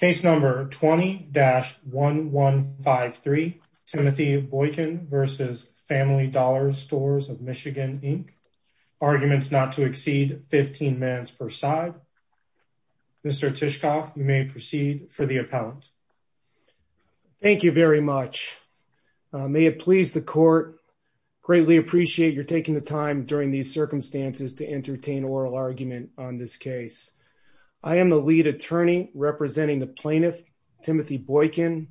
Case number 20-1153 Timothy Boykin v. Family Dollar Stores of Michigan Inc. Arguments not to exceed 15 mans per side. Mr. Tishkoff, you may proceed for the appellant. Thank you very much. May it please the court, greatly appreciate your taking the time during these circumstances to entertain oral argument on this case. I am the lead attorney representing the plaintiff, Timothy Boykin,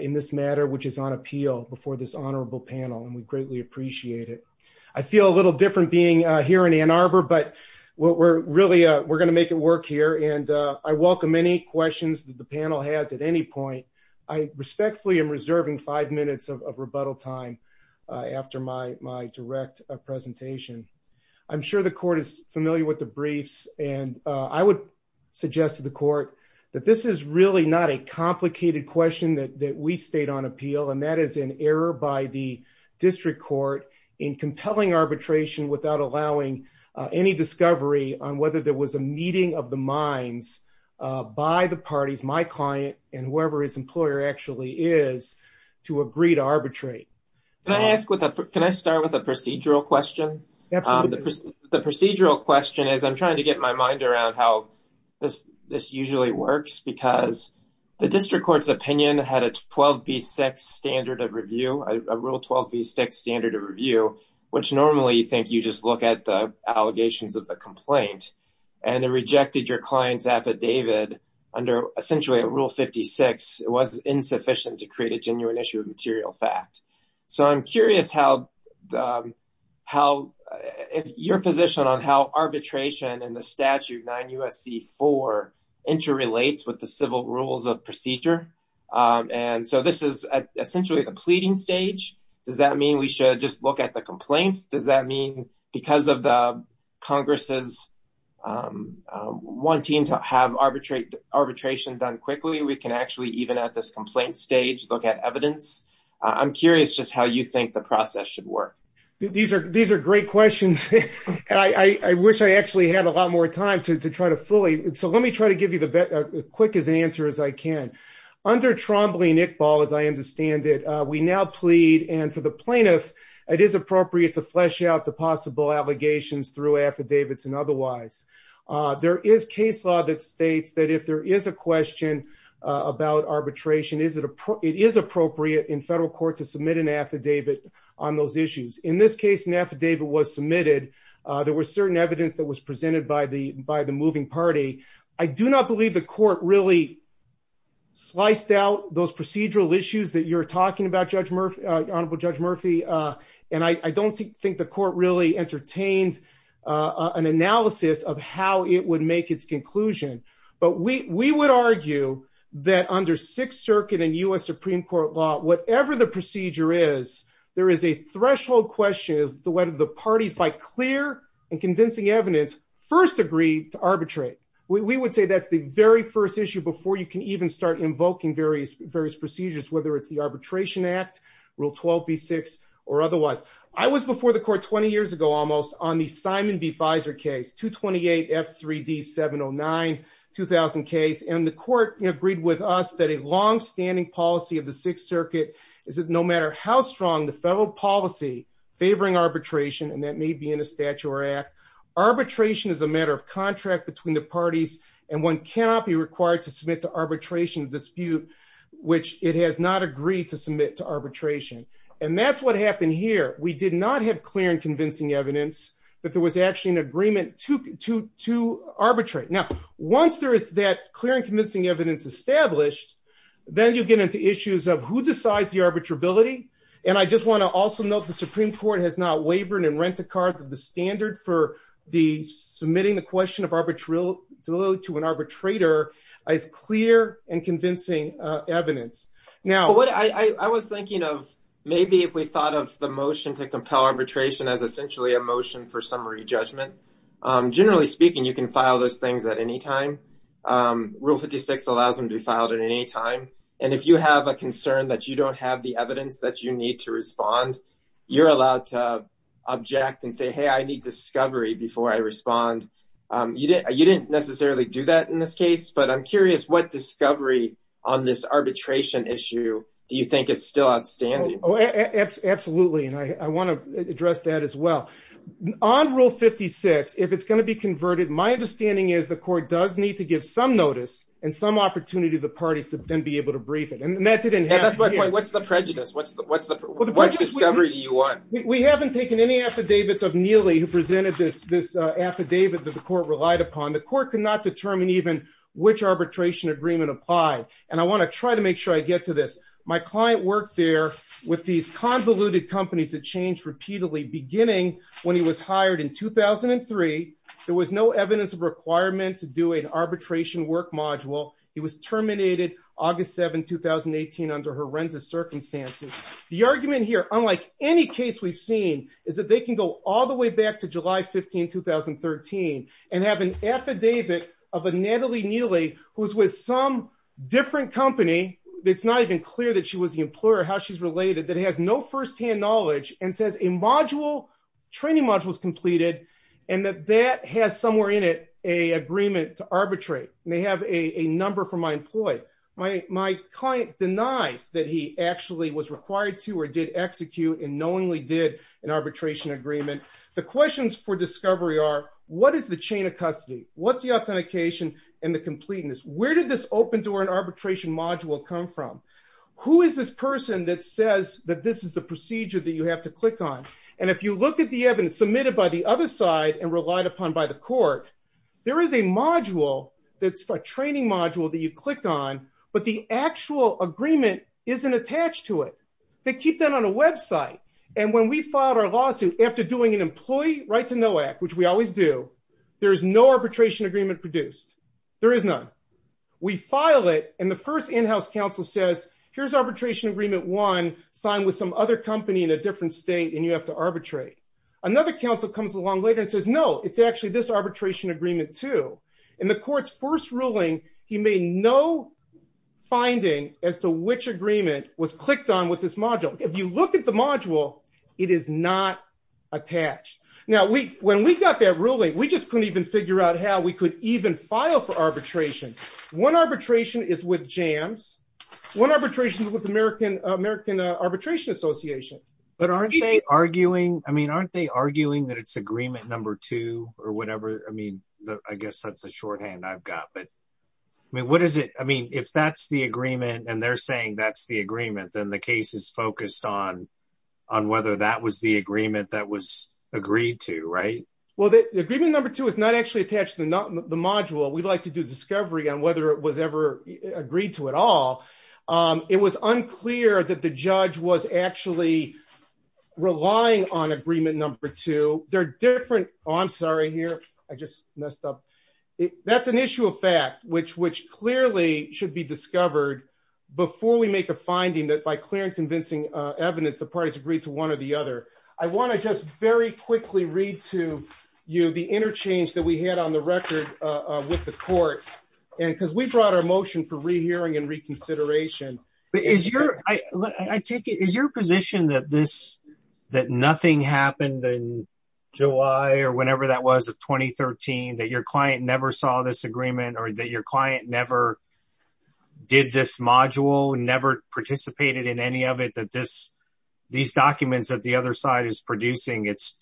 in this matter which is on appeal before this honorable panel and we greatly appreciate it. I feel a little different being here in Ann Arbor but we're really, we're going to make it work here and I welcome any questions that the panel has at any point. I respectfully am reserving five minutes of rebuttal time after my direct presentation. I'm sure the court is familiar with the briefs and I would suggest to the court that this is really not a complicated question that we state on appeal and that is an error by the district court in compelling arbitration without allowing any discovery on whether there was a meeting of the minds by the parties, my client and whoever his employer actually is, to agree to arbitrate. Can I ask, can I start with a procedural question? Absolutely. The procedural question is trying to get my mind around how this usually works because the district court's opinion had a 12b6 standard of review, a rule 12b6 standard of review, which normally you think you just look at the allegations of the complaint and it rejected your client's affidavit under essentially a rule 56. It was insufficient to create a genuine issue of material fact. So I'm curious how if your position on how arbitration and the statute 9 U.S.C. 4 interrelates with the civil rules of procedure and so this is essentially the pleading stage. Does that mean we should just look at the complaint? Does that mean because of the Congress's wanting to have arbitration done quickly we can actually even at this complaint stage look at evidence? I'm curious just how you think the process should work. These are great questions and I wish I actually had a lot more time to try to fully, so let me try to give you the quickest answer as I can. Under Trombley and Iqbal, as I understand it, we now plead and for the plaintiff it is appropriate to flesh out the possible allegations through affidavits and otherwise. There is case that if there is a question about arbitration, it is appropriate in federal court to submit an affidavit on those issues. In this case, an affidavit was submitted. There was certain evidence that was presented by the moving party. I do not believe the court really sliced out those procedural issues that you're talking about, Honorable Judge Murphy, and I don't think the court really entertained an analysis of how it would make its conclusion, but we would argue that under Sixth Circuit and U.S. Supreme Court law, whatever the procedure is, there is a threshold question as to whether the parties by clear and convincing evidence first agree to arbitrate. We would say that's the very first issue before you can even start various procedures, whether it's the Arbitration Act, Rule 12B6, or otherwise. I was before the court 20 years ago almost on the Simon v. Fizer case, 228 F3D 709, 2000 case, and the court agreed with us that a longstanding policy of the Sixth Circuit is that no matter how strong the federal policy favoring arbitration, and that may be in a statute or act, arbitration is a matter of contract between the parties and one cannot be required to submit to arbitration dispute, which it has not agreed to submit to arbitration, and that's what happened here. We did not have clear and convincing evidence that there was actually an agreement to arbitrate. Now, once there is that clear and convincing evidence established, then you get into issues of who decides the arbitrability, and I just want to also note the Supreme Court has not wavered in rent-a-car the standard for the submitting the question of arbitral to an arbitrator as clear and convincing evidence. Now, I was thinking of maybe if we thought of the motion to compel arbitration as essentially a motion for summary judgment. Generally speaking, you can file those things at any time. Rule 56 allows them to be filed at any time, and if you have a concern that you don't have the evidence that you need to you didn't necessarily do that in this case, but I'm curious what discovery on this arbitration issue do you think is still outstanding? Absolutely, and I want to address that as well. On rule 56, if it's going to be converted, my understanding is the court does need to give some notice and some opportunity to the parties to then be able to brief it, and that didn't happen here. What's the prejudice? What discovery do you want? We haven't taken any affidavits of Neely who presented this affidavit that the court relied upon. The court could not determine even which arbitration agreement applied, and I want to try to make sure I get to this. My client worked there with these convoluted companies that changed repeatedly beginning when he was hired in 2003. There was no evidence of requirement to do an arbitration work module. He was terminated August 7, 2018 under horrendous circumstances. The argument here, unlike any case we've seen, is that they can go all the way back to July 15, 2013 and have an affidavit of a Natalie Neely who's with some different company. It's not even clear that she was the employer, how she's related, that has no first-hand knowledge and says a training module was completed and that that has somewhere in it an agreement to arbitrate. They have a number from my employee. My client denies that he actually was required to or did execute and knowingly did an arbitration agreement. The questions for discovery are, what is the chain of custody? What's the authentication and the completeness? Where did this open door and arbitration module come from? Who is this person that says that this is the procedure that you have to click on? If you look at the evidence submitted by the other side and relied upon by the court, there is a training module that you click on, but the actual agreement isn't attached to it. They keep that on a website. When we filed our lawsuit after doing an employee right-to-know act, which we always do, there is no arbitration agreement produced. There is none. We file it, and the first in-house counsel says, here's arbitration agreement one, signed with some other company in a different state, and you have to arbitrate. Another counsel comes along later and says, no, it's actually this arbitration agreement two. In the court's first ruling, he made no finding as to which agreement was clicked on with this module. If you look at the module, it is not attached. Now, when we got that ruling, we just couldn't even figure out how we could even file for arbitration. One arbitration is with JAMS. One arbitration is with American Arbitration Association. But aren't they arguing, I mean, aren't they arguing that it's agreement number two or whatever? I mean, I guess that's the shorthand I've got, but I mean, what is it? I mean, if that's the agreement and they're saying that's the agreement, then the case is focused on whether that was the agreement that was agreed to, right? Well, the agreement number two is not actually attached to the module. We'd like to do discovery on whether it was ever agreed to at all. It was unclear that the judge was actually relying on agreement number two. They're different. Oh, I'm sorry here. I just messed up. That's an issue of fact, which clearly should be discovered before we make a finding that by clear and convincing evidence, the parties agreed to one or the other. I want to just very quickly read to you the interchange that we had on the record with the court. And because we brought our position that nothing happened in July or whenever that was of 2013, that your client never saw this agreement or that your client never did this module, never participated in any of it, that these documents that the other side is producing, it's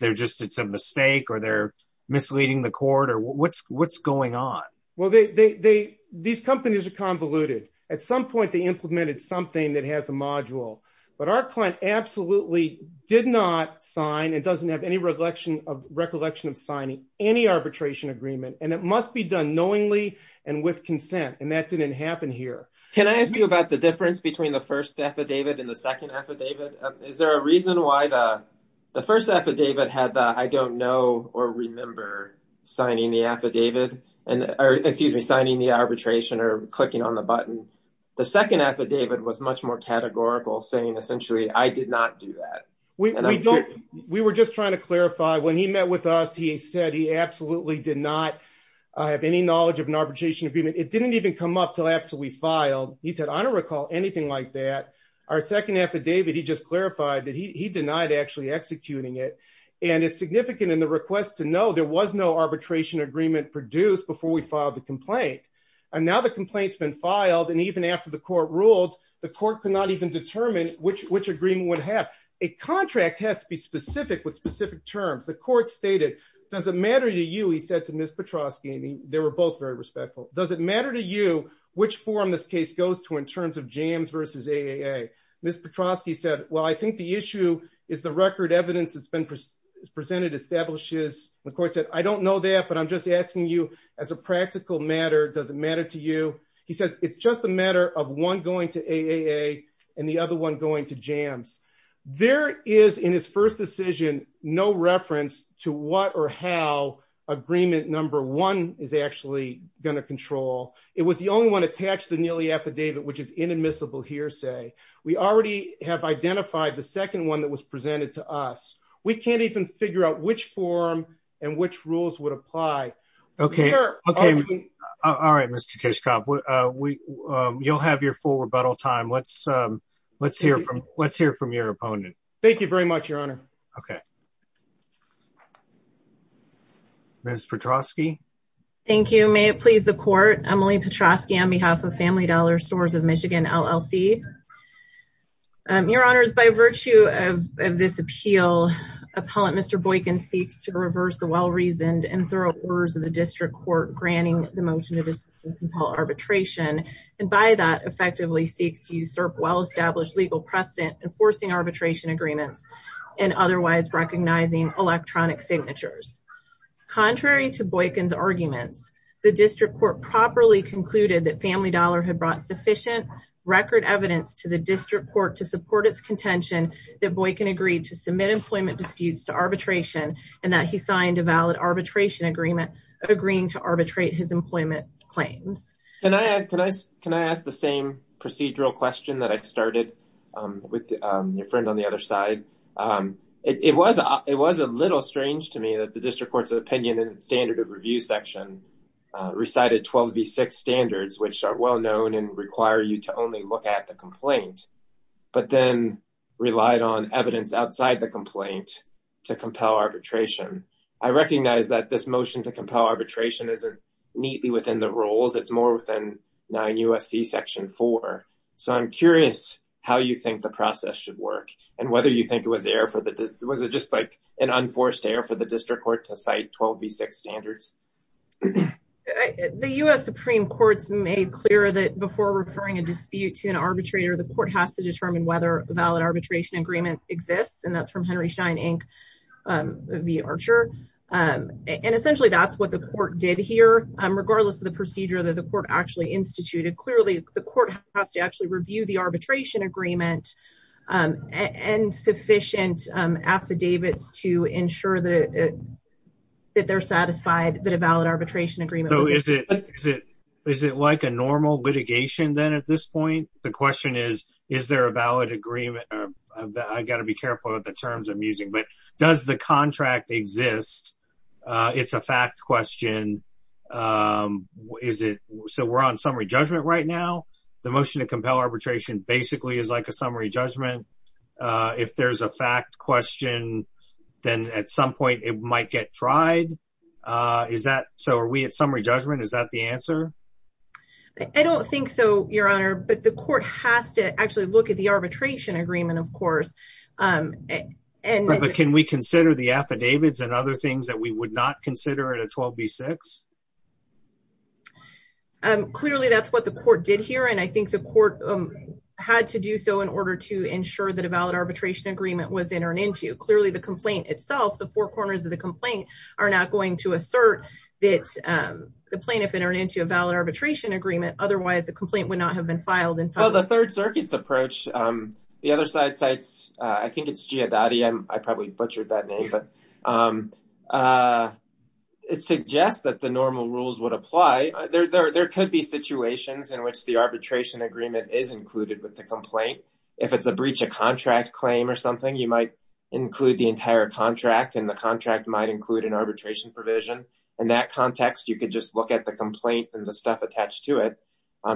a mistake or they're misleading the court or what's going on? Well, these companies are convoluted. At some point, they implemented something that has a module, but our client absolutely did not sign and doesn't have any recollection of recollection of signing any arbitration agreement. And it must be done knowingly and with consent. And that didn't happen here. Can I ask you about the difference between the first affidavit and the second affidavit? Is there a reason why the first affidavit had the, I don't know, or remember signing the affidavit and, or excuse me, signing the arbitration or the second affidavit was much more categorical saying essentially, I did not do that. We were just trying to clarify when he met with us, he said he absolutely did not have any knowledge of an arbitration agreement. It didn't even come up till after we filed. He said, I don't recall anything like that. Our second affidavit, he just clarified that he denied actually executing it. And it's significant in the request to know there was no arbitration agreement produced before we filed the complaint. And now the complaint's been filed. And even after the court ruled, the court could not even determine which agreement would have. A contract has to be specific with specific terms. The court stated, does it matter to you? He said to Ms. Petrosky, and they were both very respectful. Does it matter to you which form this case goes to in terms of jams versus AAA? Ms. Petrosky said, well, I think the issue is the asking you as a practical matter, does it matter to you? He says, it's just a matter of one going to AAA and the other one going to jams. There is in his first decision, no reference to what or how agreement number one is actually going to control. It was the only one attached to the Neely affidavit, which is inadmissible hearsay. We already have identified the second one that was Okay. All right, Mr. Tishkoff, you'll have your full rebuttal time. Let's hear from your opponent. Thank you very much, your honor. Okay. Ms. Petrosky. Thank you. May it please the court, Emily Petrosky on behalf of Family Dollar Stores of Michigan LLC. Your honors, by virtue of this appeal, appellant Mr. Boykin seeks to reverse the well-reasoned and thorough orders of the district court, granting the motion to dispute arbitration. And by that effectively seeks to usurp well-established legal precedent, enforcing arbitration agreements and otherwise recognizing electronic signatures. Contrary to Boykin's arguments, the district court properly concluded that Family Dollar had brought sufficient record evidence to the district court to support its contention that Boykin agreed to submit employment disputes to arbitration and that he signed a valid arbitration agreement agreeing to arbitrate his employment claims. Can I ask the same procedural question that I started with your friend on the other side? It was a little strange to me that the district court's opinion and standard of review section recited 12 v 6 standards, which are well known and require you to only look at the complaint, but then relied on evidence outside the complaint to compel arbitration. I recognize that this motion to compel arbitration isn't neatly within the rules. It's more within 9 U.S.C. section 4. So I'm curious how you think the process should work and whether you think it was just like an unforced error for the district court to cite 12 v 6 standards. The U.S. Supreme Court's made clear that before referring a dispute to an arbitrator, the court has to determine whether a valid arbitration agreement exists, and that's from Henry Stein Inc. v. Archer. And essentially that's what the court did here, regardless of the procedure that the court actually instituted. Clearly the court has to actually review the arbitration agreement and sufficient affidavits to ensure that that they're satisfied that a valid arbitration agreement. So is it like a normal litigation then at this point? The question is, is there a valid agreement? I've got to be careful with the terms I'm using, but does the contract exist? It's a fact question. So we're on summary judgment right now. The motion to compel arbitration basically is like a summary judgment. If there's a fact question, then at some point it might get tried. So are we at summary judgment? Is that the answer? I don't think so, Your Honor, but the court has to actually look at the arbitration agreement, of course. But can we consider the affidavits and other things that we would not consider in a 12 v 6? Clearly that's what the court did here, and I think the court had to do so in order to ensure that a valid arbitration agreement was entered into. Clearly the complaint itself, the four corners of the complaint, are not going to assert that the plaintiff entered into a valid arbitration agreement. Otherwise the complaint would not have been filed. Well, the Third Circuit's approach, the other side cites, I think it's Giadotti, I probably butchered that name, but it suggests that the normal rules would apply. There could be situations in which the arbitration agreement is included with the complaint. If it's a breach of contract claim or something, you might include the entire contract and the contract might include an arbitration provision. In that context, you could just look at the complaint and the stuff attached to it.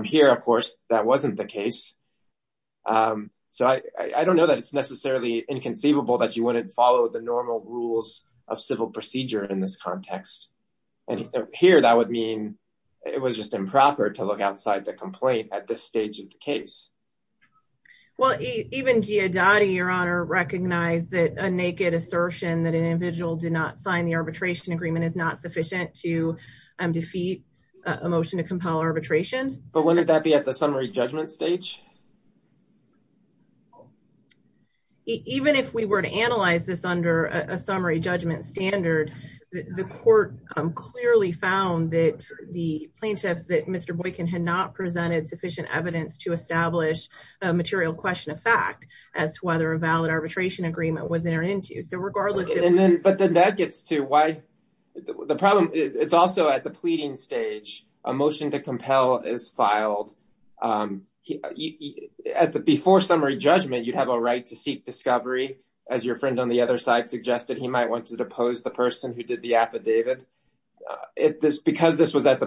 Here, of course, that wasn't the case. So I don't know that it's necessarily inconceivable that you wouldn't follow the normal rules of civil procedure in this context. And here that would mean it was just improper to look outside the complaint at this stage of the case. Well, even Giadotti, your honor, recognized that a naked assertion that an individual did not sign the arbitration agreement is not sufficient to defeat a motion to compel arbitration. But wouldn't that be at the summary judgment stage? Even if we were to analyze this under a summary judgment standard, the court clearly found that the plaintiff, Mr. Boykin, had not presented sufficient evidence to establish a material question of fact as to whether a valid arbitration agreement was entered into. But then that gets to why the problem. It's also at the pleading stage. A motion to compel is filed at the before summary judgment. You'd have a right to seek discovery. As your friend on the other side suggested, he might want to depose the person who did the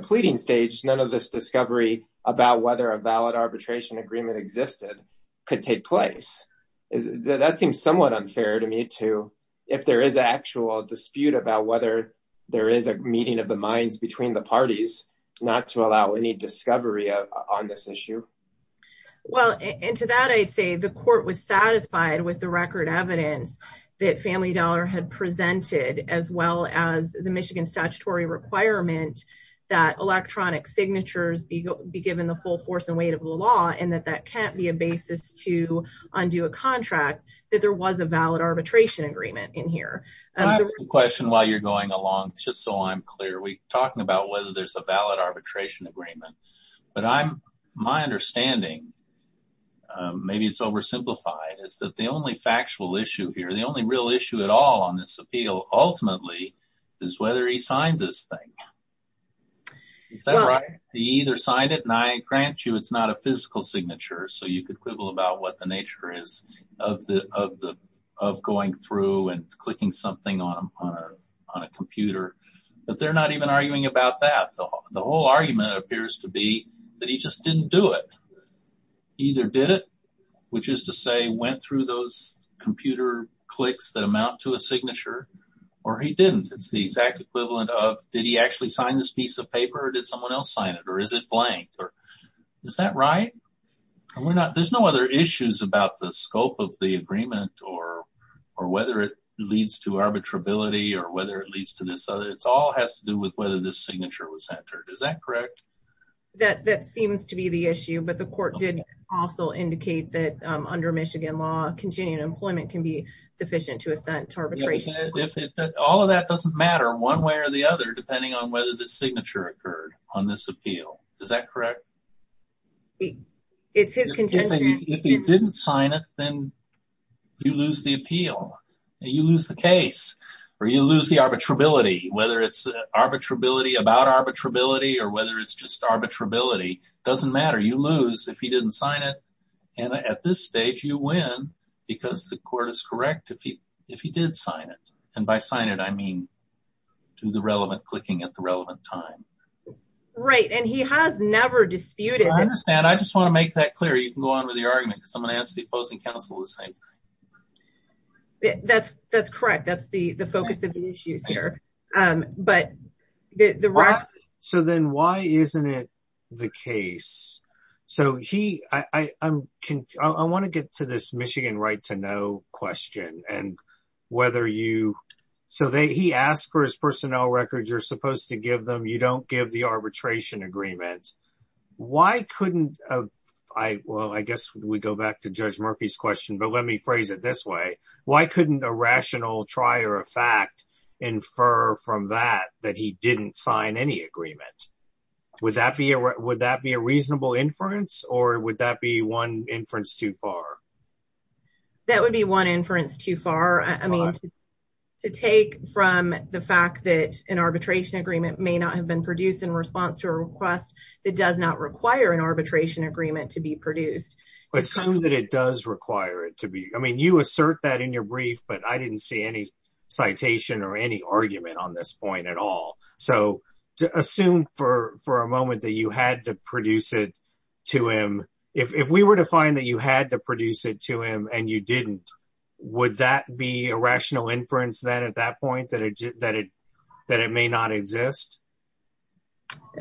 pleading stage. None of this discovery about whether a valid arbitration agreement existed could take place. That seems somewhat unfair to me, too, if there is an actual dispute about whether there is a meeting of the minds between the parties not to allow any discovery on this issue. Well, and to that, I'd say the court was satisfied with the record evidence that Family Dollar had presented as well as the Michigan statutory requirement that electronic signatures be given the full force and weight of the law and that that can't be a basis to undo a contract, that there was a valid arbitration agreement in here. I have a question while you're going along, just so I'm clear. We're talking about whether there's a valid arbitration agreement, but my understanding, maybe it's oversimplified, is that the only factual issue here, the only real issue at all on this appeal, ultimately, is whether he signed this thing. Is that right? He either signed it, and I grant you it's not a physical signature, so you could quibble about what the nature is of going through and clicking something on a computer, but they're not even arguing about that. The whole argument appears to be that he just didn't do it. He either did it, which is to say went through those computer clicks that amount to a signature, or he didn't. It's the exact equivalent of, did he actually sign this piece of paper, or did someone else sign it, or is it blank? Is that right? There's no other issues about the scope of the agreement or whether it leads to arbitrability or whether it leads to this other. It all has to do with whether this signature was entered. Is that correct? That seems to be the issue, but the court did also indicate that under Michigan law, continuing employment can be sufficient to assent arbitration. All of that doesn't matter one way or the other, depending on whether the signature occurred on this appeal. Is that correct? It's his contention. If he didn't sign it, then you lose the appeal. You lose the case, or you lose the arbitrability, whether it's arbitrability about arbitrability or whether it's just arbitrability. It doesn't matter. You lose if he didn't sign it. At this stage, you win because the court is correct if he did sign it. By sign it, I mean to the relevant clicking at the relevant time. Right. He has never disputed. I understand. I just want to make that clear. You can go on with your argument because I'm going to ask the opposing counsel the same thing. That's correct. That's the focus of the issues there. Why isn't it the case? I want to get to this Michigan right to know question. He asked for his personnel records. You're supposed to give them. You don't give the arbitration agreement. I guess we go back to Judge Murphy's question, but let me phrase it this way. Why couldn't a rational trier of fact infer from that that he didn't sign any agreement? Would that be a reasonable inference, or would that be one inference too far? That would be one inference too far. I mean, to take from the fact that an arbitration agreement may not have been produced in response to a request that does not require an arbitration agreement to be produced. Assume that it does require it to be. I mean, you assert that in your brief, but I didn't see any citation or any argument on this point at all. So assume for a moment that you had to produce it to him. If we were to find that you had to produce it to him and you didn't, would that be a rational inference then at that point that it may not exist?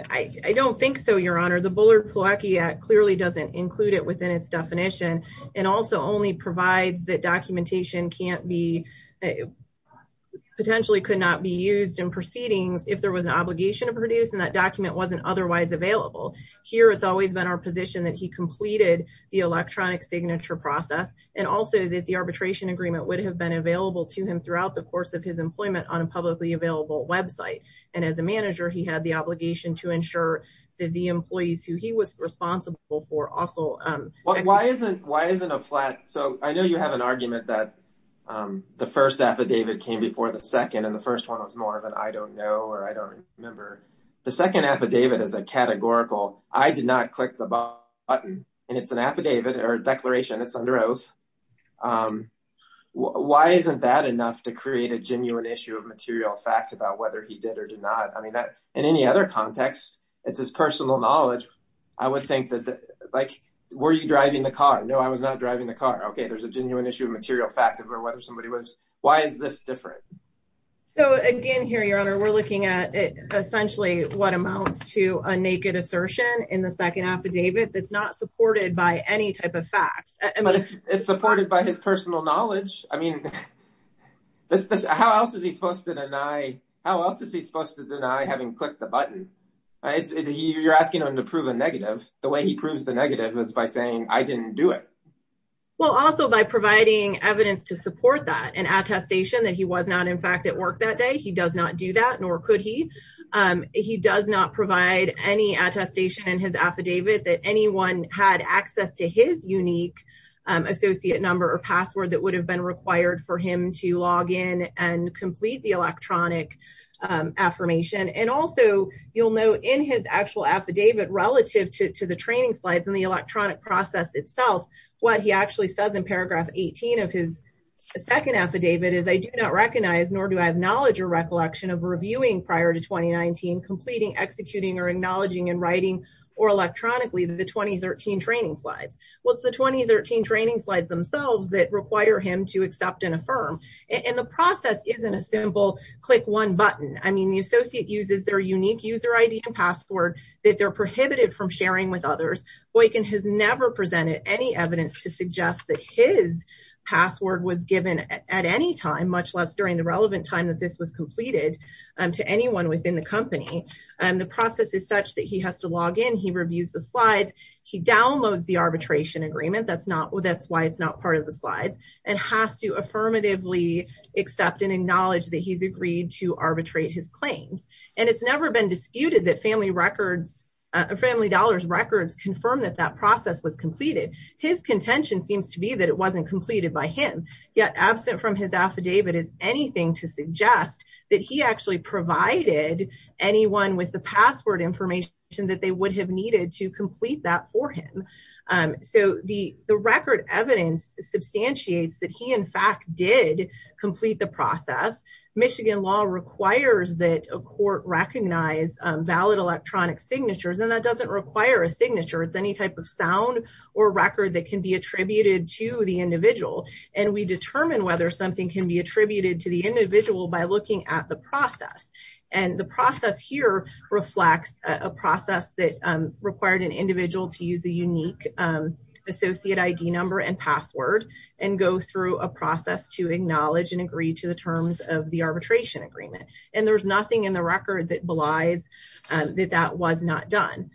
I don't think so, Your Honor. The Bullard-Pilecki Act clearly doesn't include it within its definition and also only provides that documentation can't be, potentially could not be used in proceedings if there was an obligation to produce and that document wasn't otherwise available. Here, it's always been our position that he completed the electronic signature process and also that the arbitration agreement would have been available to him throughout the course of his employment on a publicly available website. And as a manager, he had the obligation to ensure that the employees who he was responsible for also... Why isn't a flat... So I know you have an argument that the first affidavit came before the second and the first one was more of an, I don't know, or I don't remember. The second affidavit is a categorical, I did not click the button and it's an affidavit or declaration, it's under oath. Why isn't that enough to create a genuine issue of material fact about whether he did or did not? I mean, in any other context, it's his personal knowledge. I would think that, like, were you driving the car? No, I was not driving the car. Okay, there's a genuine issue of material fact of whether somebody was... Why is this different? So again, here, Your Honor, we're looking at essentially what amounts to a naked assertion in the second affidavit that's not supported by any facts. But it's supported by his personal knowledge. I mean, how else is he supposed to deny... How else is he supposed to deny having clicked the button? You're asking him to prove a negative. The way he proves the negative is by saying, I didn't do it. Well, also by providing evidence to support that, an attestation that he was not, in fact, at work that day. He does not do that, nor could he. He does not provide any attestation in his affidavit that anyone had access to his unique associate number or password that would have been required for him to log in and complete the electronic affirmation. And also, you'll note in his actual affidavit, relative to the training slides and the electronic process itself, what he actually says in paragraph 18 of his second affidavit is, I do not recognize, nor do I have knowledge or recollection of reviewing prior to 2019, completing, executing, or acknowledging in writing or electronically the 2013 training slides. What's the 2013 training slides themselves that require him to accept and affirm? And the process isn't a simple click one button. I mean, the associate uses their unique user ID and password that they're prohibited from sharing with others. Boykin has never presented any evidence to suggest that his password was given at any time, much less during the relevant time that this was completed to anyone within the company. And the process is such that he has to download the arbitration agreement, that's why it's not part of the slides, and has to affirmatively accept and acknowledge that he's agreed to arbitrate his claims. And it's never been disputed that Family Dollars records confirm that that process was completed. His contention seems to be that it wasn't completed by him, yet absent from his affidavit is anything to suggest that he actually provided anyone with the password information that they have needed to complete that for him. So the record evidence substantiates that he in fact did complete the process. Michigan law requires that a court recognize valid electronic signatures, and that doesn't require a signature. It's any type of sound or record that can be attributed to the individual. And we determine whether something can be attributed to the individual by looking at the process. And the process here reflects a process that required an individual to use a unique associate ID number and password and go through a process to acknowledge and agree to the terms of the arbitration agreement. And there's nothing in the record that belies that that was not done.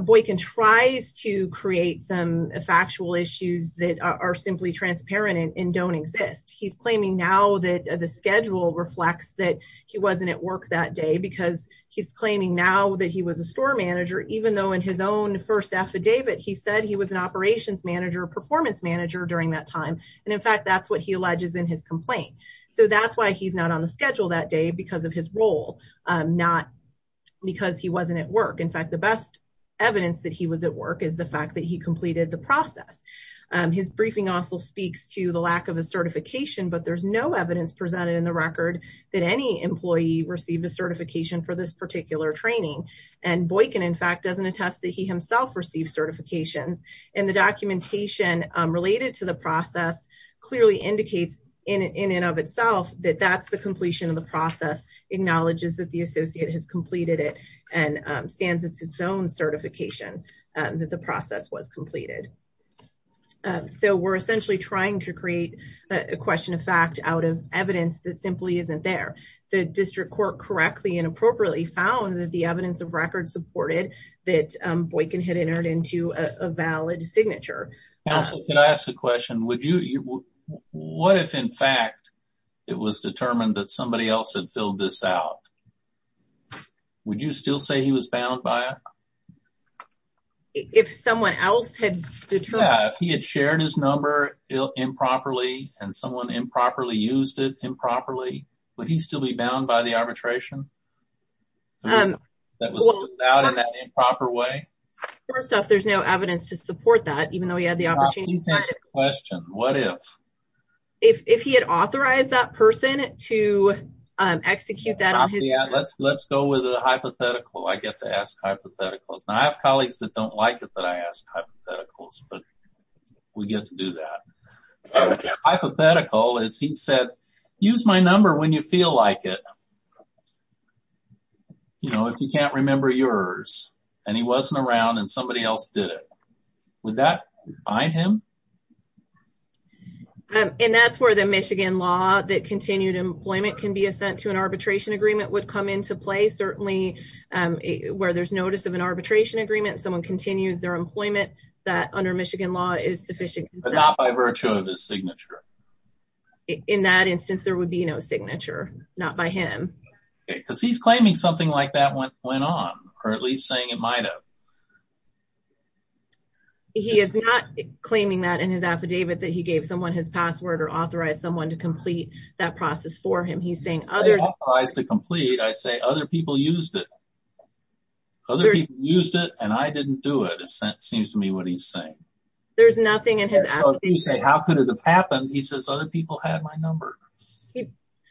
Boykin tries to create some factual issues that are simply transparent and don't exist. He's claiming now that the schedule reflects that he wasn't at work that day, because he's claiming now that he was a store manager, even though in his own first affidavit, he said he was an operations manager, performance manager during that time. And in fact, that's what he alleges in his complaint. So that's why he's not on the schedule that day because of his role, not because he wasn't at work. In fact, the best evidence that he was at work is the fact that he but there's no evidence presented in the record that any employee received a certification for this particular training. And Boykin, in fact, doesn't attest that he himself received certifications. And the documentation related to the process clearly indicates in and of itself that that's the completion of the process, acknowledges that the associate has completed it and stands its own certification, that the process was completed. So we're essentially trying to create a question of fact out of evidence that simply isn't there. The district court correctly and appropriately found that the evidence of record supported that Boykin had entered into a valid signature. Counsel, can I ask a question? What if in fact, it was determined that somebody else had filled this out? Would you still say he was bound by it? If someone else had shared his number improperly, and someone improperly used it improperly, would he still be bound by the arbitration? And that was out in that improper way? First off, there's no evidence to support that even though he had the opportunity to question what if, if he had authorized that person to execute that on his behalf? Let's go with a hypothetical. I get to ask hypotheticals. I have colleagues that don't like it that I ask hypotheticals, but we get to do that. Hypothetical is he said, use my number when you feel like it. You know, if you can't remember yours, and he wasn't around and somebody else did it. Would that bind him? And that's where the Michigan law that continued employment can be assent to an arbitration agreement would come into play. Certainly, where there's notice of an arbitration agreement, someone continues their employment, that under Michigan law is sufficient. But not by virtue of his signature. In that instance, there would be no signature, not by him. Because he's claiming something like that went on, or at least saying it might have. He is not claiming that in his affidavit that he gave someone his password or authorized someone to complete that process for him. He's saying other guys to complete, I say other people used it. Other people used it and I didn't do it. It seems to me what he's saying. There's nothing in his, you say, how could it have happened? He says, other people had my number.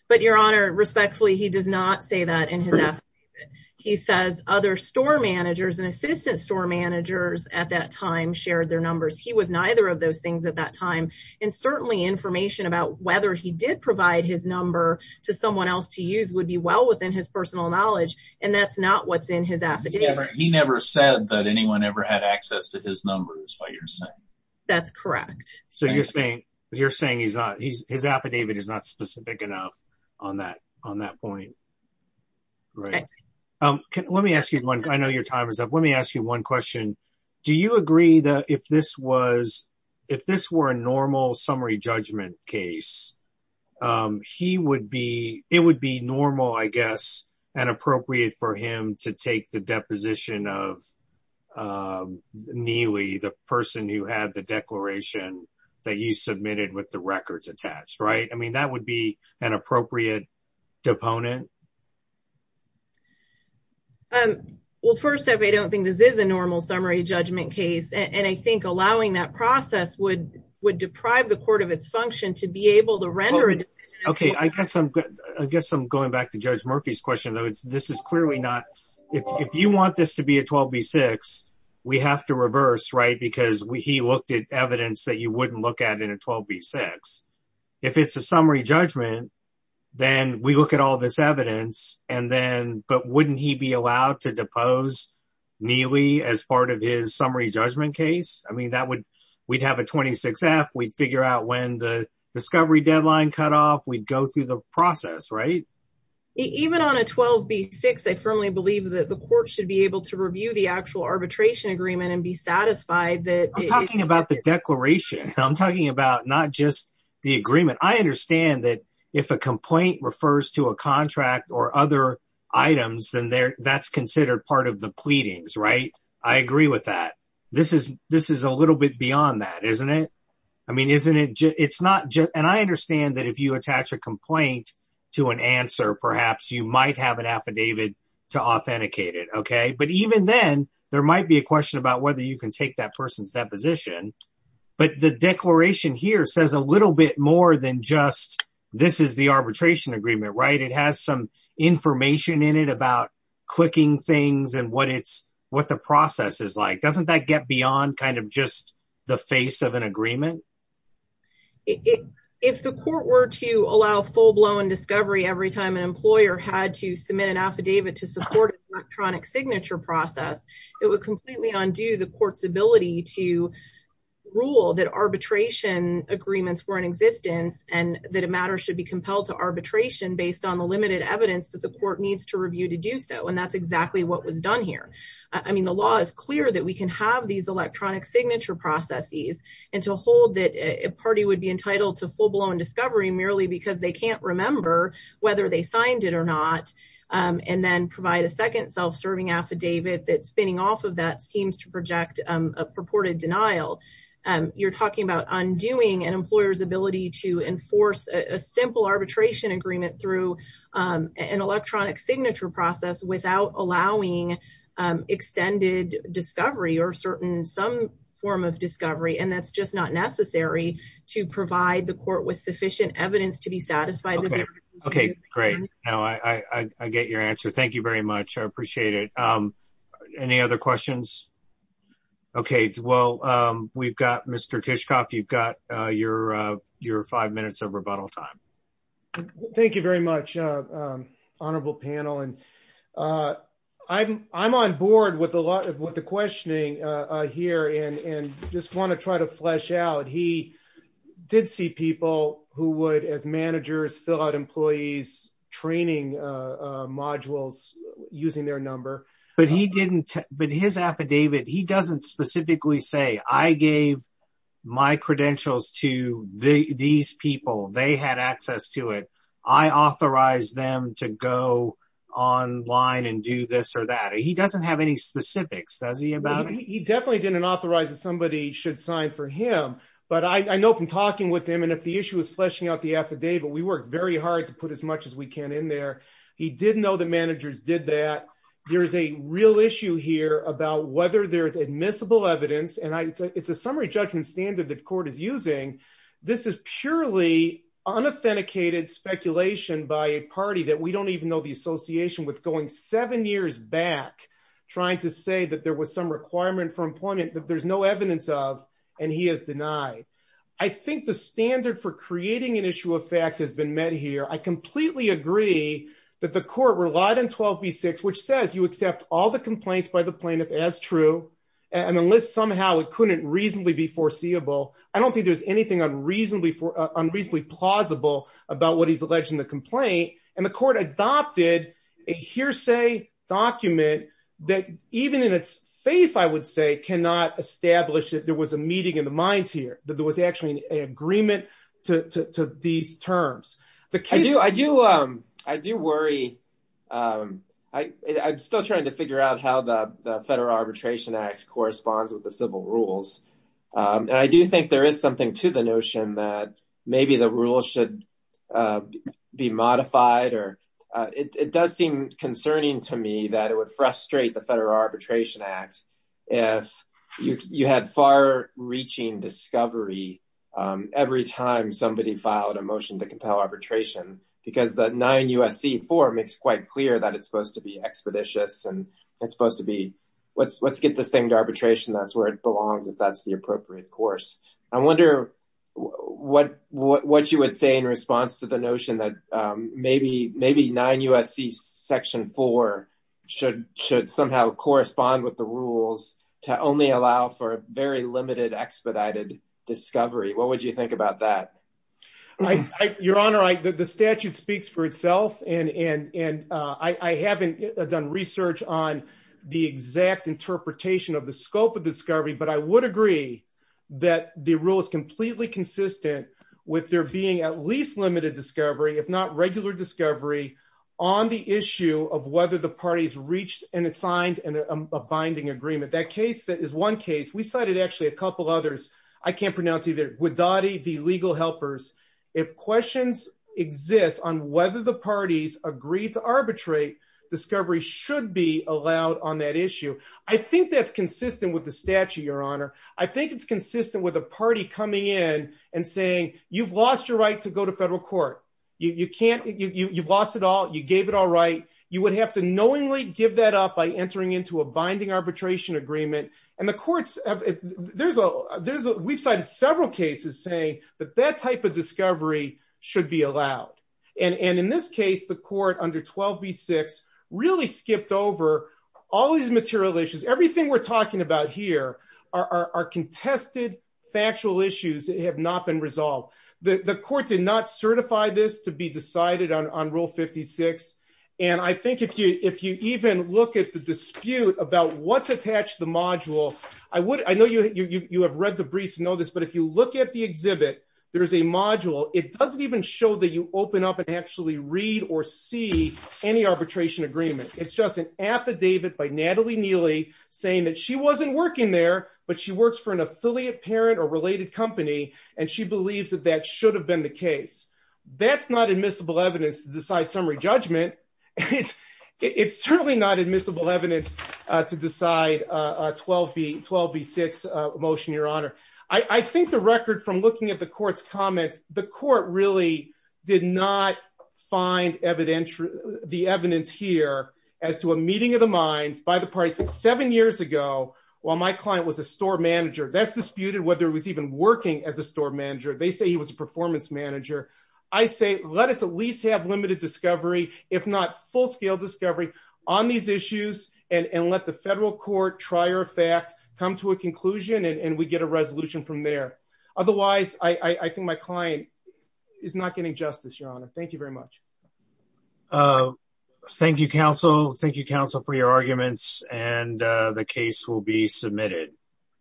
But Your Honor, respectfully, he does not say that in his. He says, other store managers and assistant store managers at that time shared their numbers. He was neither of those things at that time. And certainly information about whether he did provide his number to someone else to use would be well within his personal knowledge. And that's not what's in his affidavit. He never said that anyone ever had access to his number is what you're saying. That's correct. So you're saying he's not, his affidavit is not specific enough on that point. Right. Let me ask you one. I know your time is up. Let me ask you one question. Do you agree that if this was, if this were a normal summary judgment case, he would be, it would be normal, I guess, and appropriate for him to take the deposition of Neely, the person who had the declaration that you submitted with the records attached, right? I mean, that would be an appropriate deponent. Well, first off, I don't think this is a normal summary judgment case. And I think allowing that process would deprive the court of its function to be able to render it. Okay. I guess I'm going back to Judge Murphy's question though. This is clearly not, if you want this to be a 12B6, we have to reverse, right? Because he looked at evidence that you wouldn't look at in a 12B6. If it's a summary judgment, then we look at all this evidence and then, but wouldn't he be allowed to depose Neely as part of his summary judgment case? I mean, that would, we'd have a 26F, we'd figure out when the discovery deadline cut off. We'd go through the process, right? Even on a 12B6, I firmly believe that the court should be able to review the actual arbitration agreement and be satisfied that- I'm talking about the declaration. I'm talking about not just the agreement. I understand that if a complaint refers to a contract or other items, then that's considered part of the pleadings, right? I agree with that. This is a little bit beyond that, isn't it? I mean, isn't it just, it's not just, and I understand that if you attach a complaint to an answer, perhaps you might have an affidavit to authenticate it, okay? But even then, there might be a question about whether you can take that person's deposition, but the declaration here says a little bit more than just, this is the arbitration agreement, right? It has some information in it about clicking things and what the process is like. Doesn't that get beyond kind of just the face of an agreement? So, if the court were to allow full-blown discovery every time an employer had to submit an affidavit to support an electronic signature process, it would completely undo the court's ability to rule that arbitration agreements were in existence and that a matter should be compelled to arbitration based on the limited evidence that the court needs to review to do so, and that's exactly what was done here. I mean, the law is clear that we can have these electronic signature processes and to hold that a party would be entitled to full-blown discovery merely because they can't remember whether they signed it or not, and then provide a second self-serving affidavit that spinning off of that seems to project a purported denial. You're talking about undoing an employer's ability to enforce a simple arbitration agreement through an electronic signature process without allowing extended discovery or certain some form of discovery, and that's just not necessary to provide the court with sufficient evidence to be satisfied. Okay, great. Now, I get your answer. Thank you very much. I appreciate it. Any other questions? Okay, well, we've got Mr. Tishkoff. You've got your five minutes of rebuttal time. Thank you very much, honorable panel, and I'm on board with a lot of what the questioning here, and just want to try to flesh out. He did see people who would, as managers, fill out employees training modules using their number, but he didn't, but his affidavit, he doesn't specifically say, I gave my credentials to these people. They had access to it. I authorized them to go online and do this or that. He doesn't have any specifics, does he? He definitely didn't authorize that somebody should sign for him, but I know from talking with him, and if the issue is fleshing out the affidavit, we worked very hard to put as much as we can in there. He did know the managers did that. There is a real issue here about whether there is admissible evidence, and it's a summary judgment standard that court is using. This is purely unauthenticated speculation by a party that we don't even know the association with going seven years back trying to say that there was some requirement for employment that there's no evidence of, and he has denied. I think the standard for creating an issue of fact has been met here. I completely agree that the court relied on 12B6, which says you accept all the and unless somehow it couldn't reasonably be foreseeable. I don't think there's anything unreasonably plausible about what he's alleged in the complaint, and the court adopted a hearsay document that even in its face, I would say, cannot establish that there was a meeting in the minds here, that there was actually an agreement to these terms. I do worry. I'm still trying to figure out how the Federal Arbitration Act corresponds with the civil rules, and I do think there is something to the notion that maybe the rules should be modified. It does seem concerning to me that it would frustrate the Federal Arbitration Act if you had far-reaching discovery every time somebody filed a motion to compel arbitration, because the 9 U.S.C. 4 makes quite clear that it's supposed to be expeditious, and it's supposed to be, let's get this thing to arbitration. That's where it belongs if that's the appropriate course. I wonder what you would say in response to the notion that maybe 9 U.S.C. section 4 should somehow correspond with the rules to only allow for a very limited expedited discovery. What would you think about that? Your Honor, the statute speaks for itself, and I haven't done research on the exact interpretation of the scope of discovery, but I would agree that the rule is completely consistent with there being at least limited discovery, if not regular discovery, on the issue of whether the parties reached and signed a binding agreement. That case is one case. We cited actually a couple others. I can't pronounce either. Guidotti v. Legal Helpers. If questions exist on whether the parties agreed to arbitrate, discovery should be allowed on that issue. I think that's consistent with the statute, Your Honor. I think it's consistent with a party coming in and saying, you've lost your right to go to federal court. You've lost it all. You gave it all right. You would have to knowingly give that up by entering into a binding arbitration agreement. We've cited several cases saying that that type of discovery should be allowed. In this case, the court under 12 v. 6 really skipped over all these material issues. Everything we're talking about here are contested factual issues that have not been resolved. The court did not certify this to be decided on Rule 56. I think if you even look at the dispute about what's attached to the module, I know you have read the briefs and know this, but if you look at the exhibit, there is a module. It doesn't even show that you open up and actually read or see any She wasn't working there, but she works for an affiliate parent or related company, and she believes that that should have been the case. That's not admissible evidence to decide summary judgment. It's certainly not admissible evidence to decide a 12 v. 6 motion, Your Honor. I think the record from looking at the court's comments, the court really did not find the evidence here as to a meeting of the minds by the parties. Seven years ago, while my client was a store manager, that's disputed whether he was even working as a store manager. They say he was a performance manager. I say let us at least have limited discovery, if not full-scale discovery, on these issues and let the federal court, trier of fact, come to a conclusion and we get a resolution from there. Otherwise, I think my client is not getting justice, Your Honor. Thank you very much. Thank you, counsel. Thank you, counsel, for your arguments, and the case will be submitted.